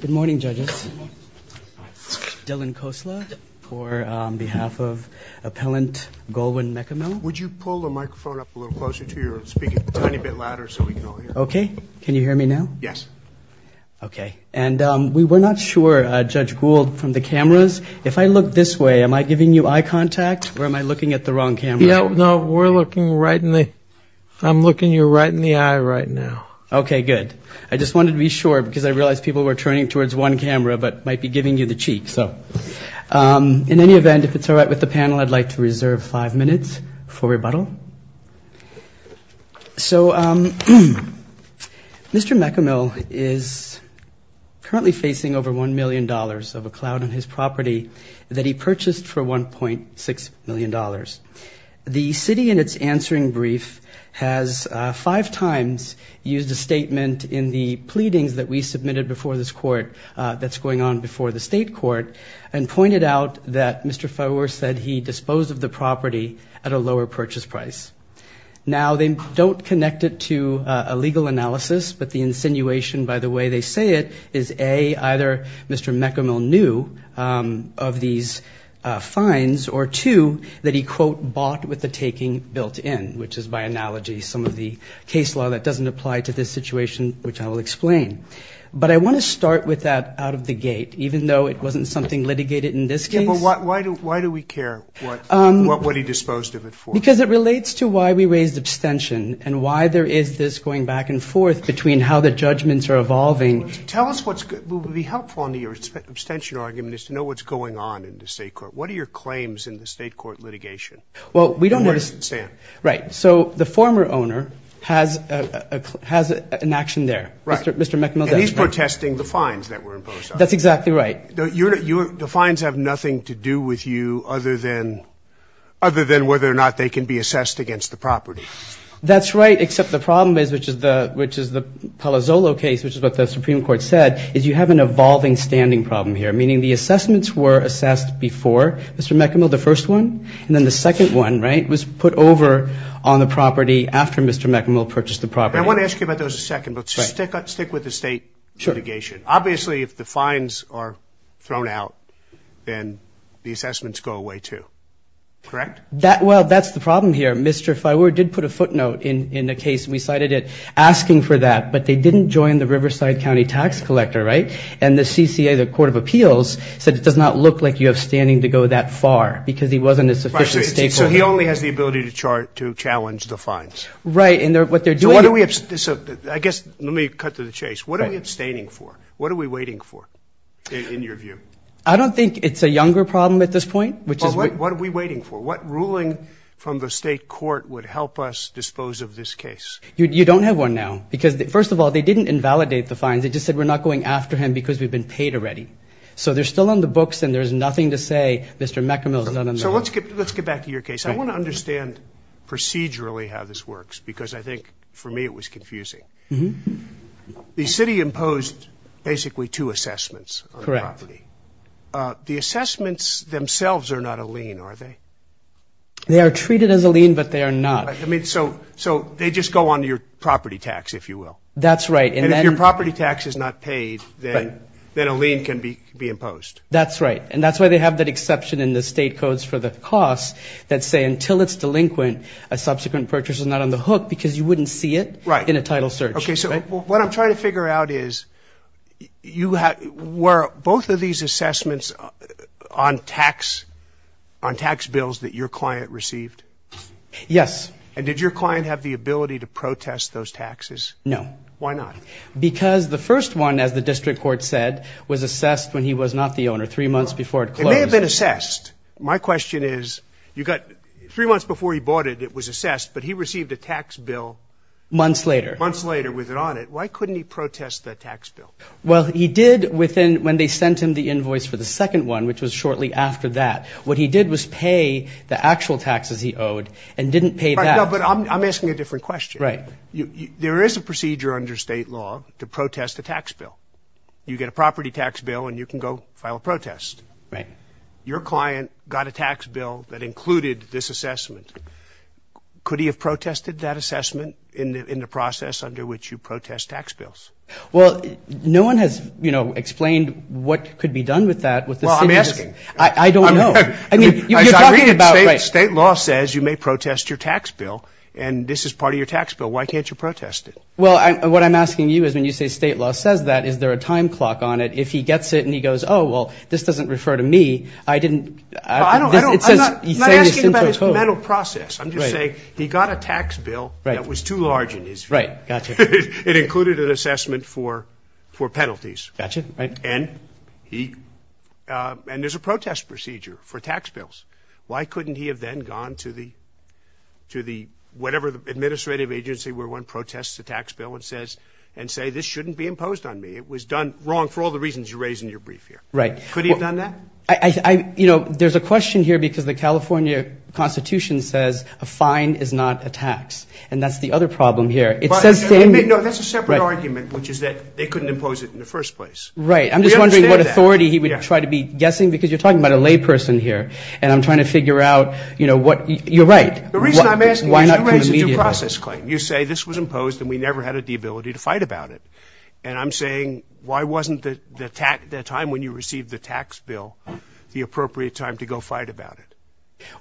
Good morning, judges. Dylan Kosla for behalf of Appellant Gholwan Mechammil. Would you pull the microphone up a little closer to you? Speak a tiny bit louder so we can all hear you. OK. Can you hear me now? Yes. OK. And we were not sure, Judge Gould, from the cameras. If I look this way, am I giving you eye contact or am I looking at the wrong camera? No, we're looking right in the – I'm looking you right in the eye right now. OK, good. I just wanted to be sure because I realize people were turning towards one camera but might be giving you the cheek, so. In any event, if it's all right with the panel, I'd like to reserve five minutes for rebuttal. So Mr. Mechammil is currently facing over $1 million of a cloud on his property that he purchased for $1.6 million. The city, in its answering brief, has five times used a statement in the pleadings that we submitted before this court that's going on before the state court and pointed out that Mr. Fowler said he disposed of the property at a lower purchase price. Now, they don't connect it to a legal analysis, but the insinuation by the way they say it is, A, either Mr. Mechammil knew of these fines or, two, that he, quote, bought with the taking built in, which is by analogy some of the case law that doesn't apply to this situation, which I will explain. But I want to start with that out of the gate, even though it wasn't something litigated in this case. Yeah, but why do we care what he disposed of it for? Because it relates to why we raised abstention and why there is this going back and forth between how the judgments are evolving. Tell us what would be helpful in your abstention argument is to know what's going on in the state court. What are your claims in the state court litigation? Well, we don't know. Where does it stand? Right. So the former owner has an action there. Right. Mr. Mechammil does. And he's protesting the fines that were imposed on him. That's exactly right. The fines have nothing to do with you other than whether or not they can be assessed against the property. That's right, except the problem is, which is the Palazzolo case, which is what the Supreme Court said, is you have an evolving standing problem here, meaning the assessments were assessed before Mr. Mechammil, the first one. And then the second one, right, was put over on the property after Mr. Mechammil purchased the property. I want to ask you about those a second, but stick with the state litigation. Obviously, if the fines are thrown out, then the assessments go away, too. Correct? Well, that's the problem here. Mr. Faiwur did put a footnote in the case, and we cited it, asking for that. But they didn't join the Riverside County Tax Collector, right? And the CCA, the Court of Appeals, said it does not look like you have standing to go that far because he wasn't a sufficient stakeholder. Right. So he only has the ability to challenge the fines. Right. And what they're doing. So I guess let me cut to the chase. What are we abstaining for? What are we waiting for, in your view? I don't think it's a younger problem at this point, which is we – Well, what are we waiting for? What ruling from the state court would help us dispose of this case? You don't have one now because, first of all, they didn't invalidate the fines. They just said we're not going after him because we've been paid already. So they're still on the books, and there's nothing to say Mr. Meckermill's not on the books. So let's get back to your case. I want to understand procedurally how this works because I think, for me, it was confusing. The city imposed basically two assessments on the property. Correct. The assessments themselves are not a lien, are they? They are treated as a lien, but they are not. So they just go on to your property tax, if you will. That's right. And if your property tax is not paid, then a lien can be imposed. That's right. And that's why they have that exception in the state codes for the costs that say until it's delinquent, a subsequent purchase is not on the hook because you wouldn't see it in a title search. Okay. So what I'm trying to figure out is were both of these assessments on tax bills that your client received? Yes. And did your client have the ability to protest those taxes? No. Why not? Because the first one, as the district court said, was assessed when he was not the owner, three months before it closed. It may have been assessed. My question is you got three months before he bought it, it was assessed, but he received a tax bill. Months later. Months later with it on it. Why couldn't he protest that tax bill? Well, he did when they sent him the invoice for the second one, which was shortly after that. What he did was pay the actual taxes he owed and didn't pay that. No, but I'm asking a different question. Right. There is a procedure under state law to protest a tax bill. You get a property tax bill and you can go file a protest. Right. Your client got a tax bill that included this assessment. Could he have protested that assessment in the process under which you protest tax bills? Well, no one has, you know, explained what could be done with that. Well, I'm asking. I don't know. I mean, you're talking about. State law says you may protest your tax bill and this is part of your tax bill. Why can't you protest it? Well, what I'm asking you is when you say state law says that, is there a time clock on it? If he gets it and he goes, oh, well, this doesn't refer to me, I didn't. I'm not asking about his mental process. I'm just saying he got a tax bill that was too large in his view. Right, gotcha. It included an assessment for penalties. Gotcha, right. And there's a protest procedure for tax bills. Why couldn't he have then gone to the whatever administrative agency where one protests a tax bill and say this shouldn't be imposed on me? It was done wrong for all the reasons you raise in your brief here. Right. Why couldn't he have done that? I, you know, there's a question here because the California Constitution says a fine is not a tax. And that's the other problem here. No, that's a separate argument, which is that they couldn't impose it in the first place. Right. I'm just wondering what authority he would try to be guessing because you're talking about a lay person here. And I'm trying to figure out, you know, what. You're right. The reason I'm asking is you raise a due process claim. You say this was imposed and we never had the ability to fight about it. And I'm saying why wasn't the time when you received the tax bill the appropriate time to go fight about it?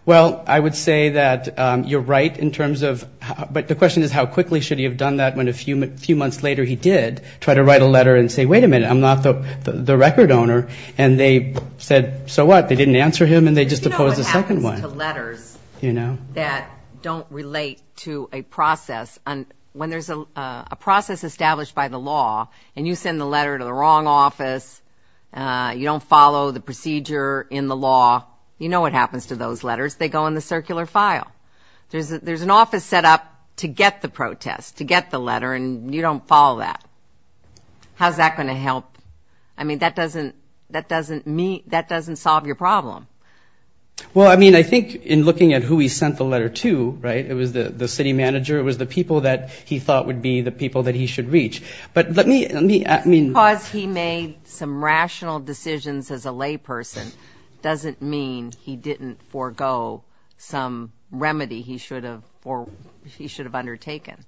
Well, I would say that you're right in terms of. But the question is how quickly should he have done that when a few months later he did try to write a letter and say, wait a minute, I'm not the record owner. And they said, so what? They didn't answer him and they just imposed a second one. You know what happens to letters that don't relate to a process? When there's a process established by the law and you send the letter to the wrong office, you don't follow the procedure in the law, you know what happens to those letters. They go in the circular file. There's an office set up to get the protest, to get the letter, and you don't follow that. How is that going to help? I mean, that doesn't meet, that doesn't solve your problem. Well, I mean, I think in looking at who he sent the letter to, right, it was the city manager, it was the people that he thought would be the people that he should reach. But let me, I mean. Because he made some rational decisions as a layperson doesn't mean he didn't forego some remedy he should have undertaken.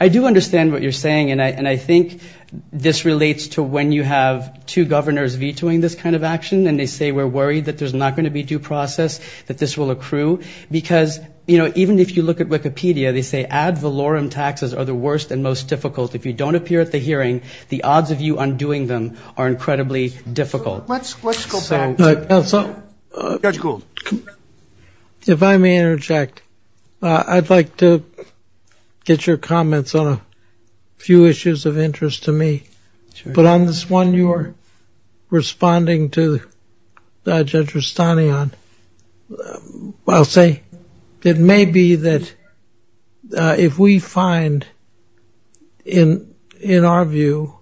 I do understand what you're saying, and I think this relates to when you have two governors vetoing this kind of action and they say we're worried that there's not going to be due process, that this will accrue. Because, you know, even if you look at Wikipedia, they say ad valorem taxes are the worst and most difficult. If you don't appear at the hearing, the odds of you undoing them are incredibly difficult. Let's go back. Judge Gould. If I may interject, I'd like to get your comments on a few issues of interest to me. But on this one you were responding to Judge Rustanian, I'll say it may be that if we find, in our view,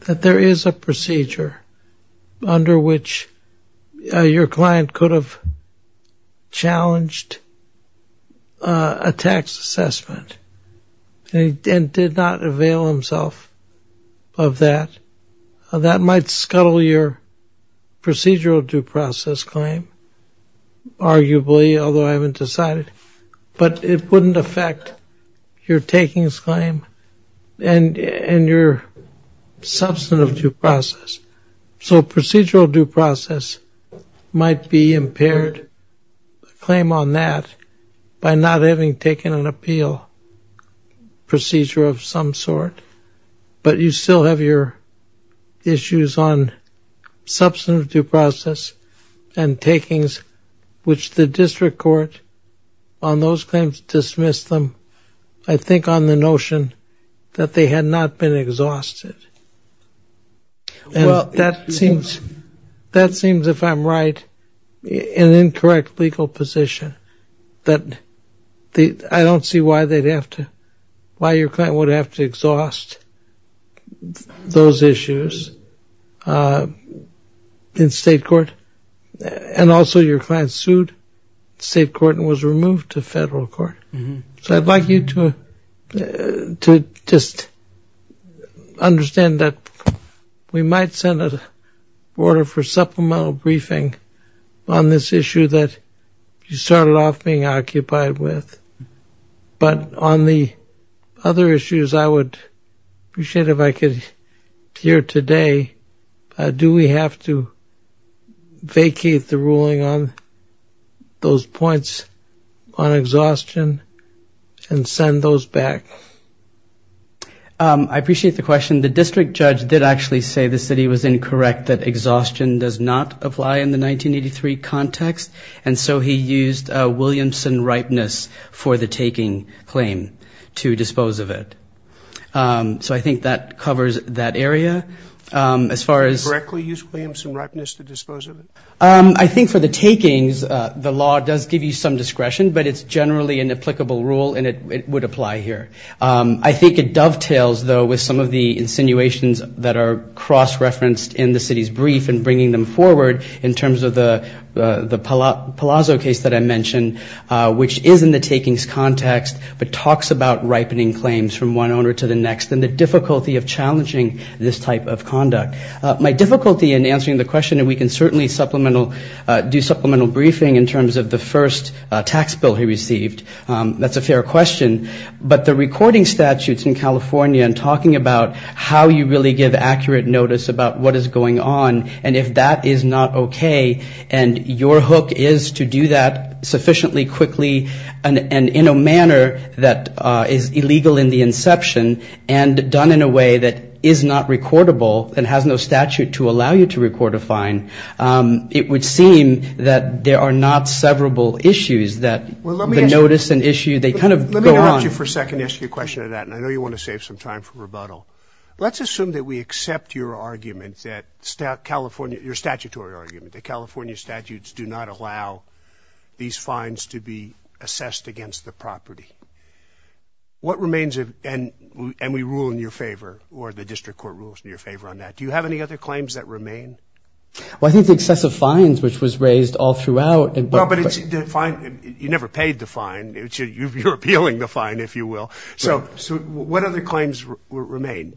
that there is a procedure under which your client could have challenged a tax assessment and did not avail himself of that, that might scuttle your procedural due process claim, arguably, although I haven't decided. But it wouldn't affect your takings claim and your substantive due process. So procedural due process might be impaired, a claim on that, by not having taken an appeal procedure of some sort. But you still have your issues on substantive due process and takings, which the district court on those claims dismissed them, I think, on the notion that they had not been exhausted. And that seems, if I'm right, an incorrect legal position. I don't see why your client would have to exhaust those issues in state court. And also your client sued state court and was removed to federal court. So I'd like you to just understand that we might send an order for supplemental briefing on this issue that you started off being occupied with. But on the other issues, I would appreciate if I could hear today, do we have to vacate the ruling on those points on exhaustion and send those back? I appreciate the question. The district judge did actually say the city was incorrect, that exhaustion does not apply in the 1983 context. And so he used Williamson ripeness for the taking claim to dispose of it. So I think that covers that area. As far as correctly use Williamson ripeness to dispose of it. I think for the takings, the law does give you some discretion, but it's generally an applicable rule and it would apply here. I think it dovetails, though, that are cross-referenced in the city's brief and bringing them forward in terms of the Palazzo case that I mentioned, which is in the takings context but talks about ripening claims from one owner to the next and the difficulty of challenging this type of conduct. My difficulty in answering the question, and we can certainly do supplemental briefing in terms of the first tax bill he received. That's a fair question. But the recording statutes in California and talking about how you really give accurate notice about what is going on and if that is not okay and your hook is to do that sufficiently quickly and in a manner that is illegal in the inception and done in a way that is not recordable and has no statute to allow you to record a fine, it would seem that there are not severable issues that the notice and issue, they kind of go on. Let me interrupt you for a second to ask you a question on that, and I know you want to save some time for rebuttal. Let's assume that we accept your argument that California, your statutory argument, that California statutes do not allow these fines to be assessed against the property. What remains, and we rule in your favor or the district court rules in your favor on that, do you have any other claims that remain? Well, I think the excessive fines, which was raised all throughout. Well, but the fine, you never paid the fine. You're appealing the fine, if you will. So what other claims remain?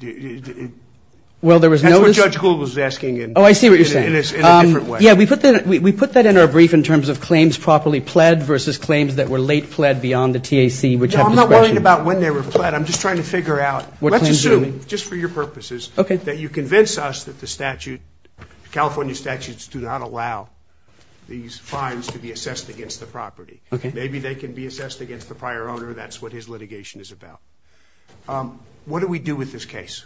That's what Judge Gould was asking. Oh, I see what you're saying. In a different way. Yeah, we put that in our brief in terms of claims properly pled versus claims that were late pled beyond the TAC. No, I'm not worried about when they were pled. I'm just trying to figure out. Let's assume, just for your purposes, that you convince us that the statute, California statutes do not allow these fines to be assessed against the property. Maybe they can be assessed against the prior owner. That's what his litigation is about. What do we do with this case?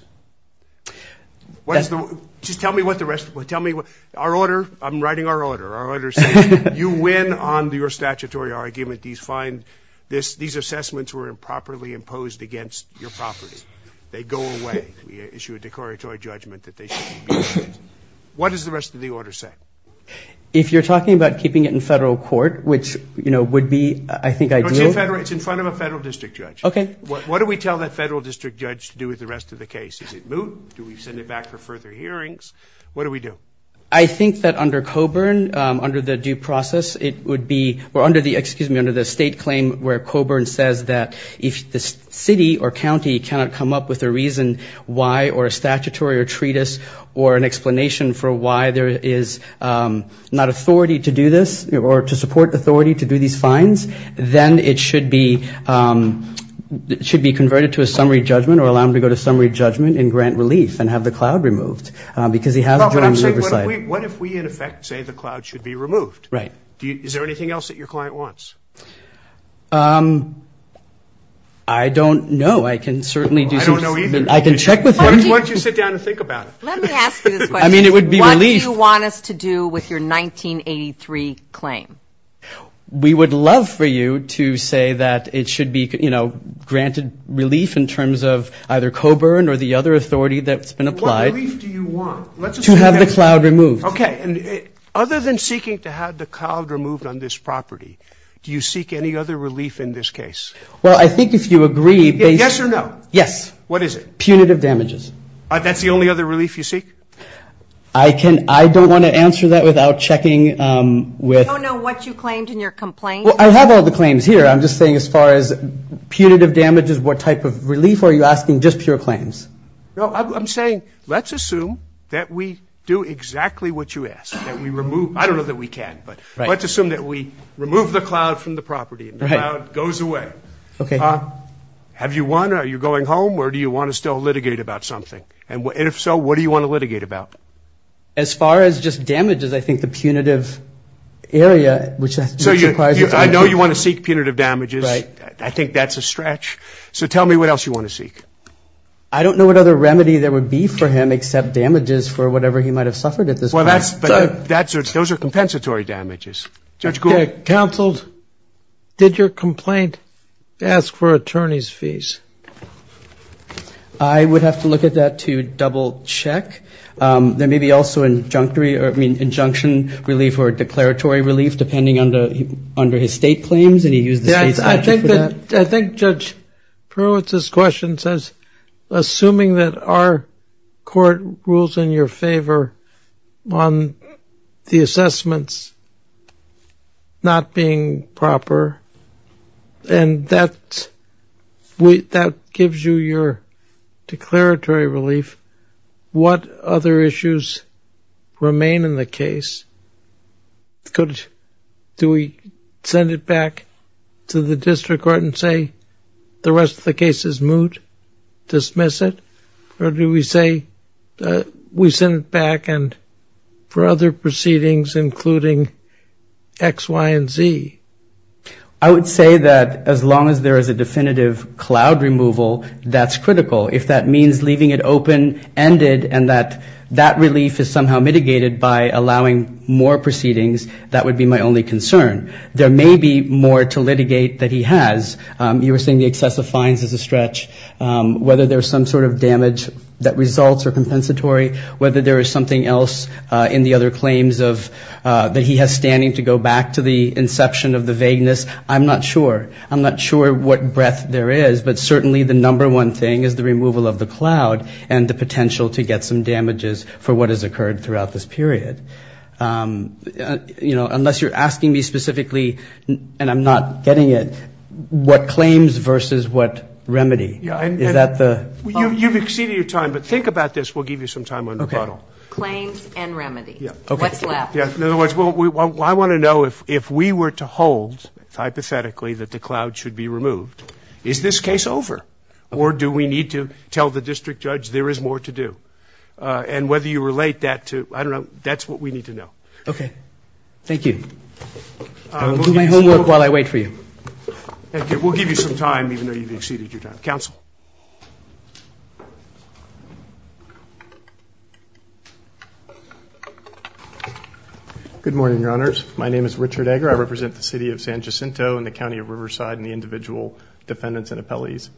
Just tell me what the rest, tell me what, our order, I'm writing our order. Our order says you win on your statutory argument. These assessments were improperly imposed against your property. They go away. We issue a decoratory judgment that they should be. What does the rest of the order say? If you're talking about keeping it in federal court, which, you know, would be, I think, ideal. It's in front of a federal district judge. Okay. What do we tell that federal district judge to do with the rest of the case? Is it moot? Do we send it back for further hearings? What do we do? I think that under Coburn, under the due process, it would be, or under the, excuse me, under the state claim where Coburn says that if the city or county cannot come up with a reason why, or a statutory or treatise, or an explanation for why there is not authority to do this, or to support authority to do these fines, then it should be, it should be converted to a summary judgment or allow them to go to summary judgment and grant relief and have the cloud removed. Because he has a German Riverside. What if we, in effect, say the cloud should be removed? Right. Is there anything else that your client wants? I don't know. I can certainly do something. I don't know either. I can check with him. Why don't you sit down and think about it? Let me ask you this question. I mean, it would be relief. What do you want us to do with your 1983 claim? We would love for you to say that it should be, you know, granted relief in terms of either Coburn or the other authority that's been applied. What relief do you want? To have the cloud removed. Okay. And other than seeking to have the cloud removed on this property, do you seek any other relief in this case? Well, I think if you agree. Yes or no? Yes. What is it? Punitive damages. That's the only other relief you seek? I can, I don't want to answer that without checking with. I don't know what you claimed in your complaint. Well, I have all the claims here. I'm just saying as far as punitive damages, what type of relief are you asking? Just pure claims. No, I'm saying let's assume that we do exactly what you asked, that we remove, I don't know that we can, but let's assume that we remove the cloud from the property and the cloud goes away. Okay. Have you won? Are you going home? Or do you want to still litigate about something? And if so, what do you want to litigate about? As far as just damages, I think the punitive area. So I know you want to seek punitive damages. Right. I think that's a stretch. So tell me what else you want to seek. I don't know what other remedy there would be for him except damages for whatever he might have suffered at this point. Well, those are compensatory damages. Judge Gould. Counsel, did your complaint ask for attorney's fees? I would have to look at that to double check. There may be also injunctory, I mean injunction relief or declaratory relief, depending under his state claims, and he used the state statute for that. I think Judge Perowitz's question says, assuming that our court rules in your favor on the assessments not being proper and that gives you your declaratory relief, what other issues remain in the case? Judge, do we send it back to the district court and say the rest of the case is moot, dismiss it? Or do we say we send it back for other proceedings, including X, Y, and Z? I would say that as long as there is a definitive cloud removal, that's critical. If that means leaving it open-ended and that that relief is somehow mitigated by allowing more proceedings, that would be my only concern. There may be more to litigate that he has. You were saying the excess of fines is a stretch. Whether there's some sort of damage that results or compensatory, whether there is something else in the other claims that he has standing to go back to the inception of the vagueness, I'm not sure. I'm not sure what breadth there is, but certainly the number one thing is the removal of the cloud and the potential to get some damages for what has occurred throughout this period. You know, unless you're asking me specifically, and I'm not getting it, what claims versus what remedy, is that the? You've exceeded your time, but think about this. We'll give you some time on the bottle. Claims and remedy. Let's laugh. In other words, I want to know if we were to hold, hypothetically, that the cloud should be removed, is this case over? Or do we need to tell the district judge there is more to do? And whether you relate that to, I don't know, that's what we need to know. Okay. Thank you. I will do my homework while I wait for you. Thank you. We'll give you some time, even though you've exceeded your time. Counsel. Good morning, Your Honors. My name is Richard Egger. I represent the City of San Jacinto and the County of Riverside and the individual defendants and appellees.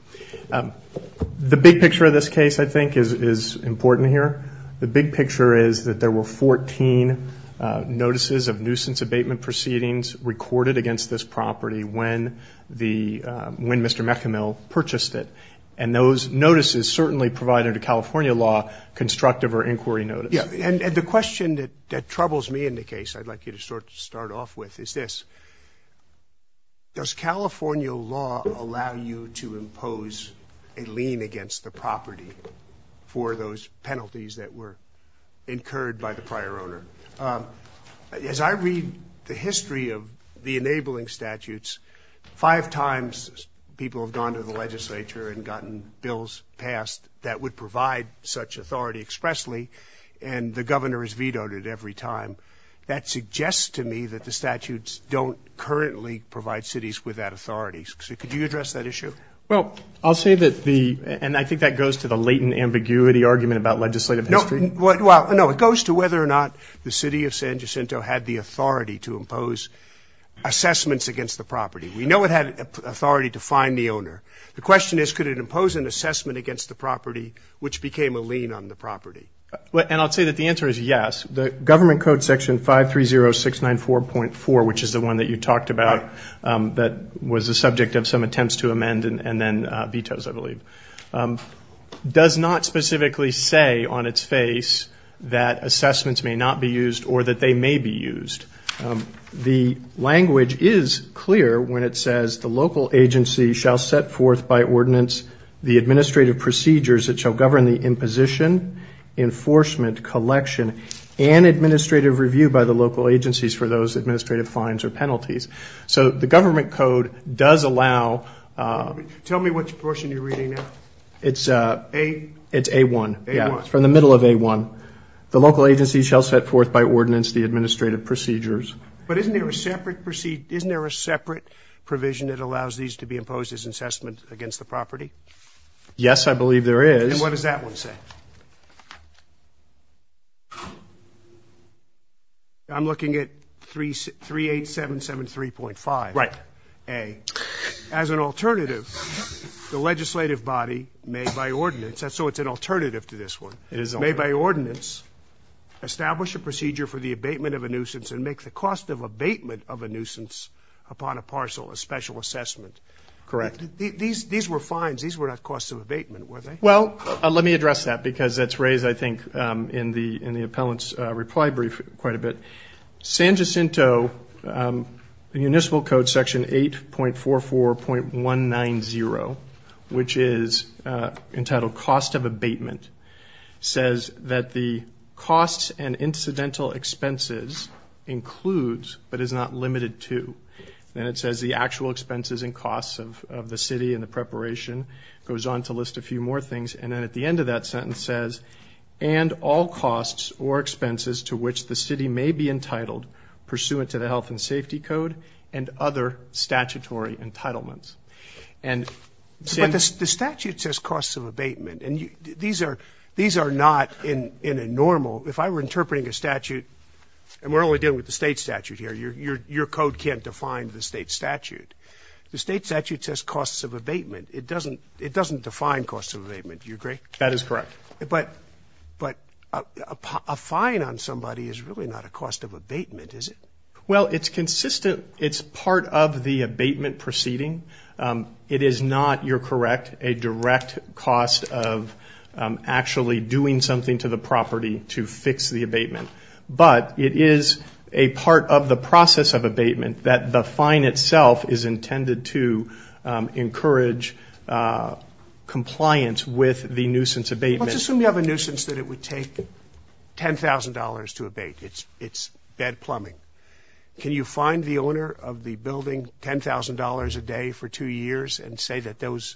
The big picture of this case, I think, is important here. The big picture is that there were 14 notices of nuisance abatement proceedings recorded against this property when Mr. Mechamil purchased it. And those notices certainly provide under California law constructive or inquiry notice. And the question that troubles me in the case I'd like you to start off with is this. Does California law allow you to impose a lien against the property for those penalties that were incurred by the prior owner? As I read the history of the enabling statutes, five times people have gone to the legislature and gotten bills passed that would provide such authority expressly, and the governor has vetoed it every time. That suggests to me that the statutes don't currently provide cities with that authority. Could you address that issue? Well, I'll say that the, and I think that goes to the latent ambiguity argument about legislative history. Well, no, it goes to whether or not the City of San Jacinto had the authority to impose assessments against the property. We know it had authority to fine the owner. The question is, could it impose an assessment against the property, which became a lien on the property? And I'll tell you that the answer is yes. The Government Code Section 530694.4, which is the one that you talked about, that was the subject of some attempts to amend and then vetoes, I believe, does not specifically say on its face that assessments may not be used or that they may be used. The language is clear when it says, the local agency shall set forth by ordinance the administrative procedures that shall govern the imposition, enforcement, collection, and administrative review by the local agencies for those administrative fines or penalties. So the Government Code does allow. Tell me which portion you're reading now. It's A1. It's from the middle of A1. The local agency shall set forth by ordinance the administrative procedures. But isn't there a separate provision that allows these to be imposed as assessments against the property? Yes, I believe there is. And what does that one say? I'm looking at 38773.5. Right. A. As an alternative, the legislative body may by ordinance. So it's an alternative to this one. It is an alternative. May by ordinance establish a procedure for the abatement of a nuisance and make the cost of abatement of a nuisance upon a parcel a special assessment. Correct. These were fines. These were not costs of abatement, were they? Well, let me address that because that's raised, I think, in the appellant's reply brief quite a bit. San Jacinto, the Municipal Code, Section 8.44.190, which is entitled Cost of Abatement, says that the costs and incidental expenses includes but is not limited to. Then it says the actual expenses and costs of the city and the preparation. It goes on to list a few more things. And then at the end of that sentence says, and all costs or expenses to which the city may be entitled pursuant to the health and safety code and other statutory entitlements. But the statute says costs of abatement. And these are not in a normal. If I were interpreting a statute, and we're only dealing with the state statute here, your code can't define the state statute. The state statute says costs of abatement. It doesn't define costs of abatement. Do you agree? That is correct. But a fine on somebody is really not a cost of abatement, is it? Well, it's consistent. It's part of the abatement proceeding. It is not, you're correct, a direct cost of actually doing something to the property to fix the abatement. But it is a part of the process of abatement that the fine itself is intended to encourage compliance with the nuisance abatement. Let's assume you have a nuisance that it would take $10,000 to abate. It's bed plumbing. Can you fine the owner of the building $10,000 a day for two years and say that those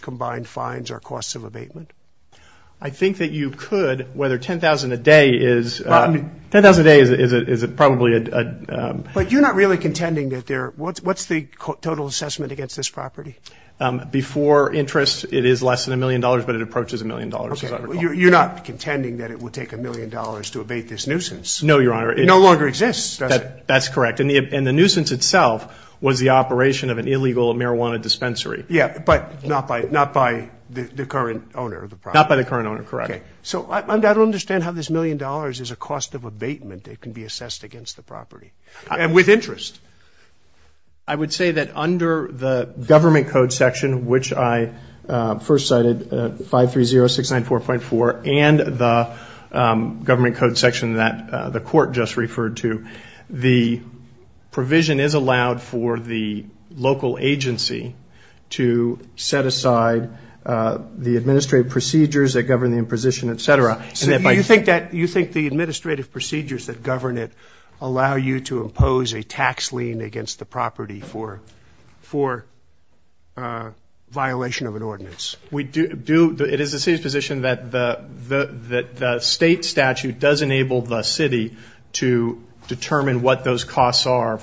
combined fines are costs of abatement? I think that you could, whether $10,000 a day is probably a... But you're not really contending that there... What's the total assessment against this property? Before interest, it is less than $1 million, but it approaches $1 million. Okay. You're not contending that it would take $1 million to abate this nuisance? No, Your Honor. It no longer exists, does it? That's correct. And the nuisance itself was the operation of an illegal marijuana dispensary. Yeah, but not by the current owner of the property. Not by the current owner, correct. Okay. So I don't understand how this $1 million is a cost of abatement that can be assessed against the property, and with interest. I would say that under the government code section, which I first cited, 530694.4, and the government code section that the Court just referred to, the provision is allowed for the local agency to set aside the administrative procedures that govern the imposition, et cetera. So you think the administrative procedures that govern it allow you to impose a tax lien against the property for violation of an ordinance? We do. It is the city's position that the state statute does enable the city to determine what those costs are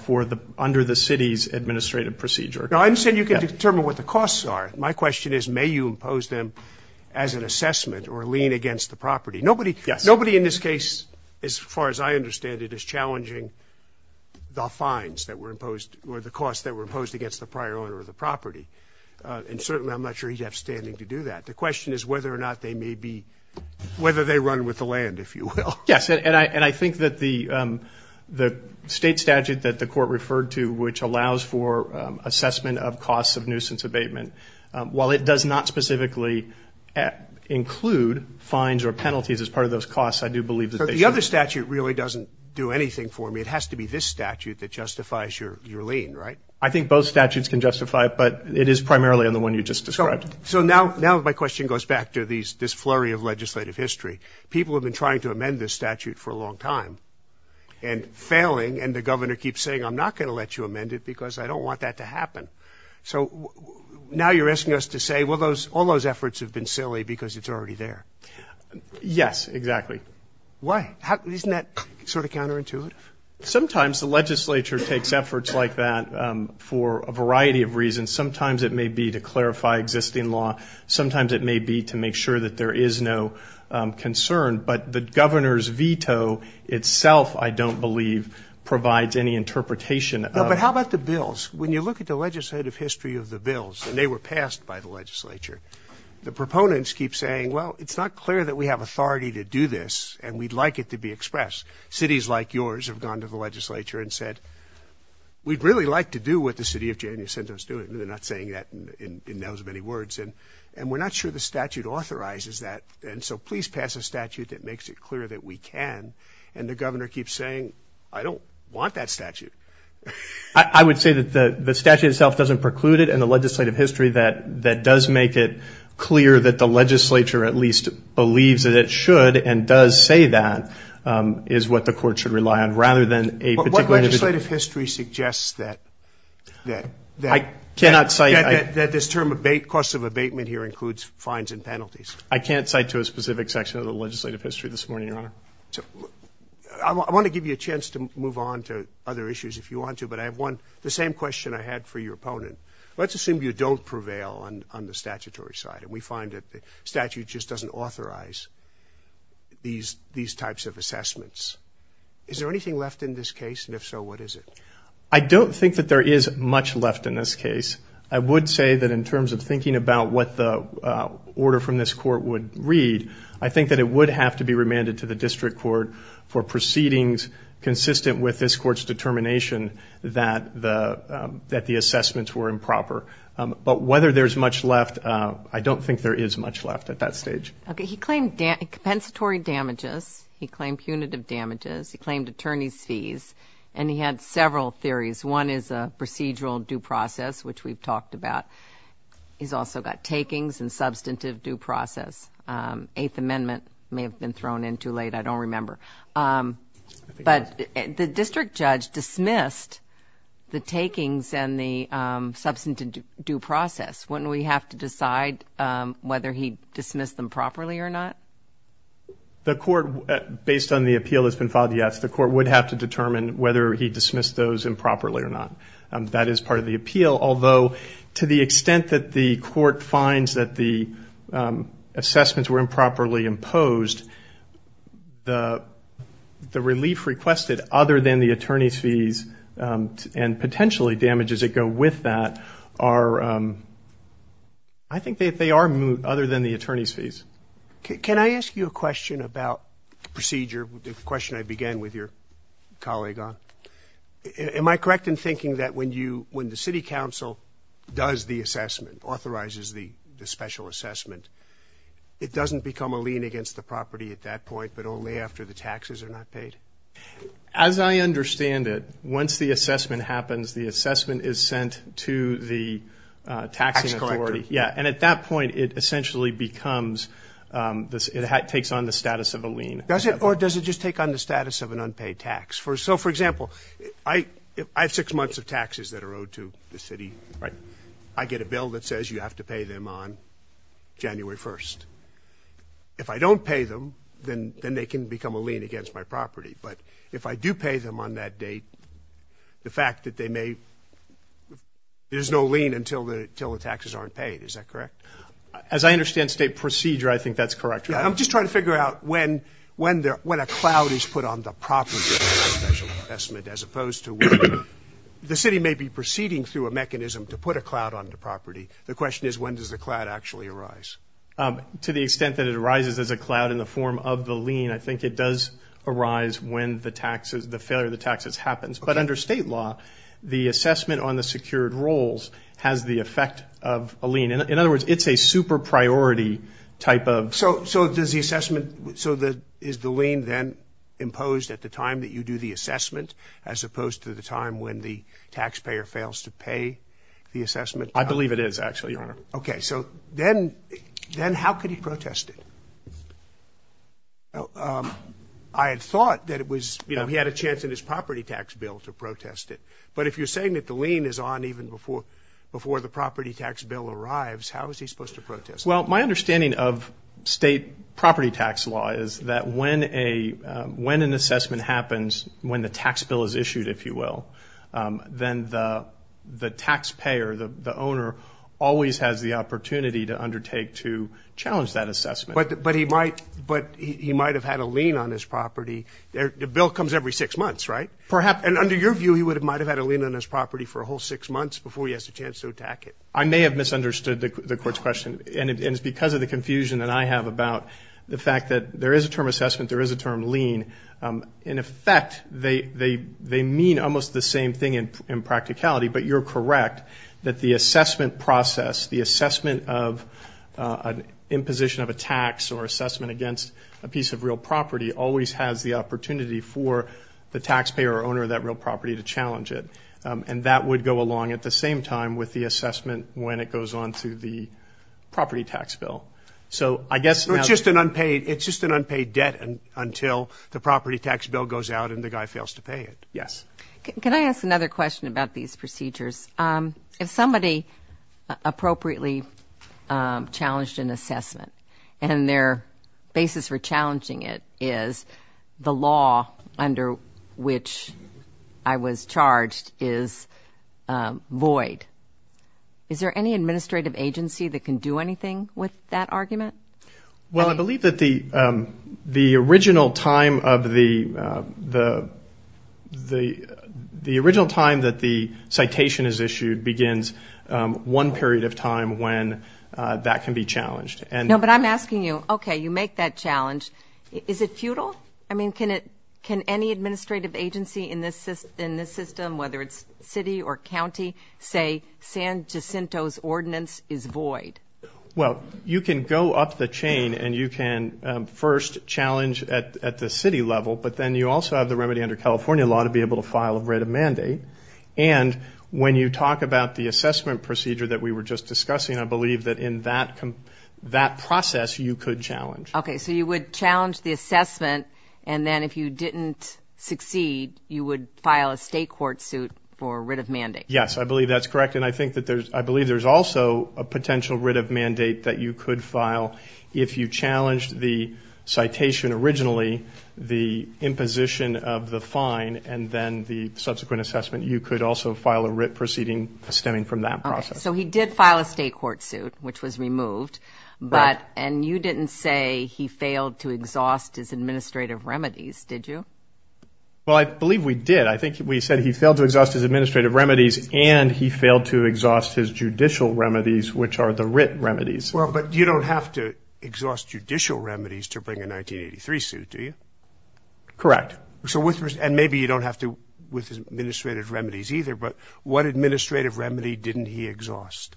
under the city's administrative procedure. Now, I'm saying you can determine what the costs are. My question is may you impose them as an assessment or lien against the property? Nobody in this case, as far as I understand it, is challenging the fines that were imposed or the costs that were imposed against the prior owner of the property. And certainly I'm not sure he'd have standing to do that. The question is whether or not they may be, whether they run with the land, if you will. Yes, and I think that the state statute that the Court referred to, which allows for assessment of costs of nuisance abatement, while it does not specifically include fines or penalties as part of those costs, I do believe that they should. So the other statute really doesn't do anything for me. It has to be this statute that justifies your lien, right? I think both statutes can justify it, but it is primarily on the one you just described. So now my question goes back to this flurry of legislative history. People have been trying to amend this statute for a long time and failing, and the governor keeps saying, I'm not going to let you amend it because I don't want that to happen. So now you're asking us to say, well, those, all those efforts have been silly because it's already there. Yes, exactly. Why? Isn't that sort of counterintuitive? Sometimes the legislature takes efforts like that for a variety of reasons. Sometimes it may be to clarify existing law. Sometimes it may be to make sure that there is no concern, but the governor's veto itself, I don't believe, provides any interpretation. But how about the bills? When you look at the legislative history of the bills, and they were passed by the legislature, the proponents keep saying, well, it's not clear that we have authority to do this and we'd like it to be expressed. Cities like yours have gone to the legislature and said, we'd really like to do what the city of January sentence doing. They're not saying that in those many words. And we're not sure the statute authorizes that. And so please pass a statute that makes it clear that we can. And the governor keeps saying, I don't want that statute. I would say that the statute itself doesn't preclude it. And the legislative history that does make it clear that the legislature at least believes that it should and does say that is what the court should rely on rather than a particular. Legislative history suggests that. I cannot say that this term abate costs of abatement here includes fines and penalties. I can't cite to a specific section of the legislative history this morning. Your Honor. I want to give you a chance to move on to other issues if you want to. But I have one, the same question I had for your opponent. Let's assume you don't prevail on the statutory side. And we find that the statute just doesn't authorize these, these types of assessments. Is there anything left in this case? And if so, what is it? I don't think that there is much left in this case. I would say that in terms of thinking about what the order from this court would read, I think that it would have to be remanded to the district court for proceedings consistent with this court's determination that the assessments were improper. But whether there's much left, I don't think there is much left at that stage. Okay. He claimed compensatory damages. He claimed punitive damages. He claimed attorney's fees. And he had several theories. One is a procedural due process, which we've talked about. He's also got takings and substantive due process. Eighth Amendment may have been thrown in too late. I don't remember. But the district judge dismissed the takings and the substantive due process. Wouldn't we have to decide whether he dismissed them properly or not? The court, based on the appeal that's been filed, yes. The court would have to determine whether he dismissed those improperly or not. That is part of the appeal, although to the extent that the court finds that the assessments were improperly imposed, the relief requested other than the attorney's fees and potentially damages that go with that are, I think that they are removed other than the attorney's fees. Can I ask you a question about procedure, the question I began with your colleague on? Am I correct in thinking that when you, when the city council does the assessment, authorizes the special assessment, it doesn't become a lien against the property at that point, but only after the taxes are not paid? As I understand it, once the assessment happens, the assessment is sent to the taxing authority. And at that point, it essentially becomes, it takes on the status of a lien. Or does it just take on the status of an unpaid tax? So, for example, I have six months of taxes that are owed to the city. I get a bill that says you have to pay them on January 1st. If I don't pay them, then they can become a lien against my property. But if I do pay them on that date, the fact that they may, there's no lien until the taxes aren't paid. Is that correct? As I understand state procedure, I think that's correct. I'm just trying to figure out when a cloud is put on the property of the special assessment as opposed to where the city may be proceeding through a mechanism to put a cloud on the property. The question is when does the cloud actually arise? To the extent that it arises as a cloud in the form of the lien, I think it does arise when the failure of the taxes happens. But under state law, the assessment on the secured rolls has the effect of a lien. In other words, it's a super priority type of. So does the assessment, so is the lien then imposed at the time that you do the assessment as opposed to the time when the taxpayer fails to pay the assessment? I believe it is, actually, Your Honor. Okay. So then how could he protest it? I had thought that it was, you know, he had a chance in his property tax bill to protest it. But if you're saying that the lien is on even before the property tax bill arrives, how is he supposed to protest it? Well, my understanding of state property tax law is that when an assessment happens, when the tax bill is issued, if you will, then the taxpayer, the owner, always has the opportunity to undertake to challenge that assessment. But he might have had a lien on his property. The bill comes every six months, right? And under your view, he might have had a lien on his property for a whole six months before he has a chance to attack it. I may have misunderstood the Court's question, and it's because of the confusion that I have about the fact that there is a term assessment, there is a term lien. In effect, they mean almost the same thing in practicality. But you're correct that the assessment process, the assessment of an imposition of a tax or assessment against a piece of real property, always has the opportunity for the taxpayer or owner of that real property to challenge it. And that would go along at the same time with the assessment when it goes on to the property tax bill. It's just an unpaid debt until the property tax bill goes out and the guy fails to pay it. Yes. Can I ask another question about these procedures? If somebody appropriately challenged an assessment and their basis for challenging it is the law under which I was charged is void, is there any administrative agency that can do anything with that argument? Well, I believe that the original time that the citation is issued begins one period of time when that can be challenged. No, but I'm asking you, okay, you make that challenge. Is it futile? I mean, can any administrative agency in this system, whether it's city or county, say San Jacinto's ordinance is void? Well, you can go up the chain and you can first challenge at the city level, but then you also have the remedy under California law to be able to file a writ of mandate. And when you talk about the assessment procedure that we were just discussing, I believe that in that process you could challenge. Okay, so you would challenge the assessment, and then if you didn't succeed you would file a state court suit for a writ of mandate. Yes, I believe that's correct. And I believe there's also a potential writ of mandate that you could file if you challenged the citation originally, the imposition of the fine, and then the subsequent assessment you could also file a writ proceeding stemming from that process. So he did file a state court suit, which was removed, and you didn't say he failed to exhaust his administrative remedies, did you? Well, I believe we did. I think we said he failed to exhaust his administrative remedies and he failed to exhaust his judicial remedies, which are the writ remedies. Well, but you don't have to exhaust judicial remedies to bring a 1983 suit, do you? Correct. And maybe you don't have to with administrative remedies either, but what administrative remedy didn't he exhaust?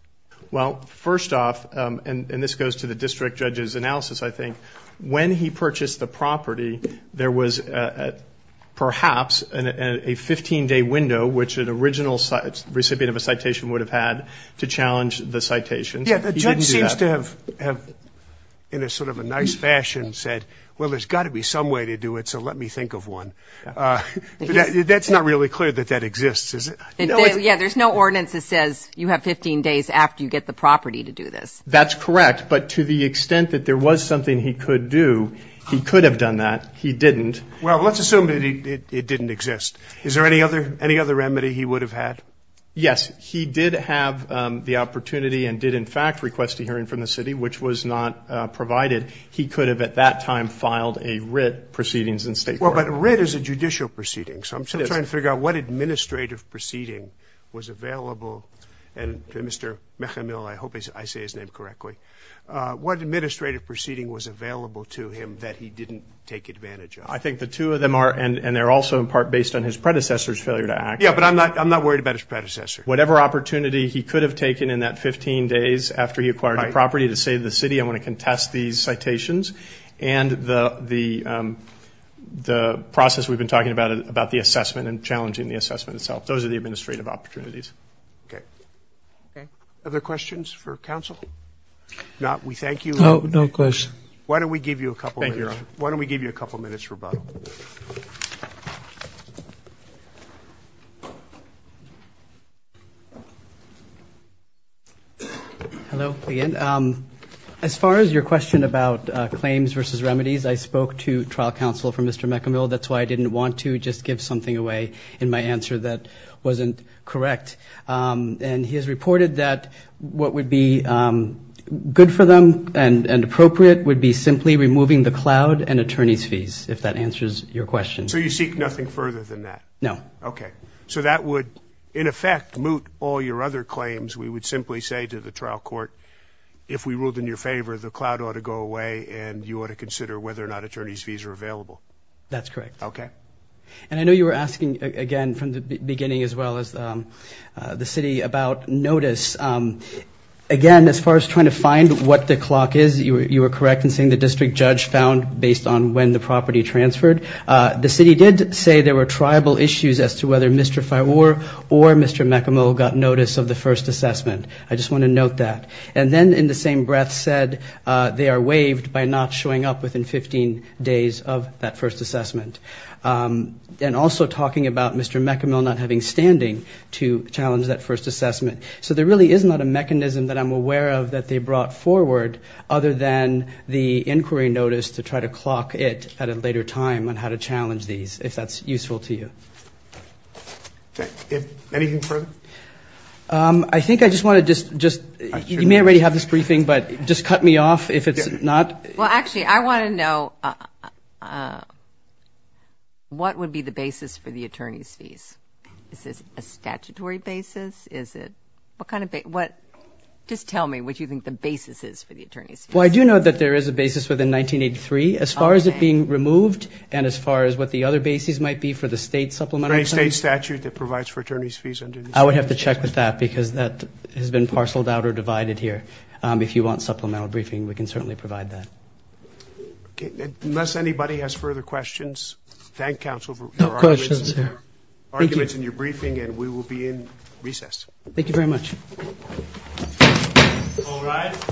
Well, first off, and this goes to the district judge's analysis, I think, when he purchased the property there was perhaps a 15-day window, which an original recipient of a citation would have had to challenge the citation. He didn't do that. Yeah, the judge seems to have in a sort of a nice fashion said, well, there's got to be some way to do it, so let me think of one. That's not really clear that that exists, is it? Yeah, there's no ordinance that says you have 15 days after you get the property to do this. That's correct. But to the extent that there was something he could do, he could have done that. He didn't. Well, let's assume that it didn't exist. Is there any other remedy he would have had? Yes. He did have the opportunity and did in fact request a hearing from the city, which was not provided. He could have at that time filed a writ proceedings in state court. Well, but a writ is a judicial proceeding, so I'm still trying to figure out what administrative proceeding was available. And to Mr. Mechemil, I hope I say his name correctly, what administrative proceeding was available to him that he didn't take advantage of? I think the two of them are, and they're also in part based on his predecessor's failure to act. Yeah, but I'm not worried about his predecessor. Whatever opportunity he could have taken in that 15 days after he acquired the property to save the city, I want to contest these citations and the process we've been talking about, the assessment and challenging the assessment itself. Those are the administrative opportunities. Okay. Okay. Other questions for counsel? We thank you. No, no questions. Why don't we give you a couple minutes? Thank you, Your Honor. Why don't we give you a couple minutes for rebuttal? Hello again. As far as your question about claims versus remedies, I spoke to trial counsel for Mr. Mechemil. That's why I didn't want to just give something away in my answer that wasn't correct. And he has reported that what would be good for them and appropriate would be simply removing the cloud and attorney's fees, if that answers your question. So you seek nothing further than that? No. Okay. So that would, in effect, moot all your other claims. We would simply say to the trial court, if we ruled in your favor, the cloud ought to go away and you ought to consider whether or not attorney's fees are available. That's correct. Okay. And I know you were asking, again, from the beginning as well as the city, about notice. Again, as far as trying to find what the clock is, you were correct in saying the district judge found based on when the property transferred. The city did say there were tribal issues as to whether Mr. Faor or Mr. Mechemil got notice of the first assessment. I just want to note that. And then in the same breath said they are waived by not showing up within 15 days of that first assessment. And also talking about Mr. Mechemil not having standing to challenge that first assessment. So there really is not a mechanism that I'm aware of that they brought forward other than the inquiry notice to try to clock it at a later time on how to challenge these, if that's useful to you. Okay. Anything further? I think I just want to just, you may already have this briefing, but just cut me off if it's not. Well, actually, I want to know what would be the basis for the attorney's fees? Is this a statutory basis? Is it? What kind of basis? Just tell me what you think the basis is for the attorney's fees. Well, I do know that there is a basis within 1983 as far as it being removed and as far as what the other basis might be for the state supplemental. Is there any state statute that provides for attorney's fees under this? I would have to check with that because that has been parceled out or divided here. If you want supplemental briefing, we can certainly provide that. Okay. Unless anybody has further questions, thank counsel for your arguments in your briefing, and we will be in recess. Thank you very much. All rise.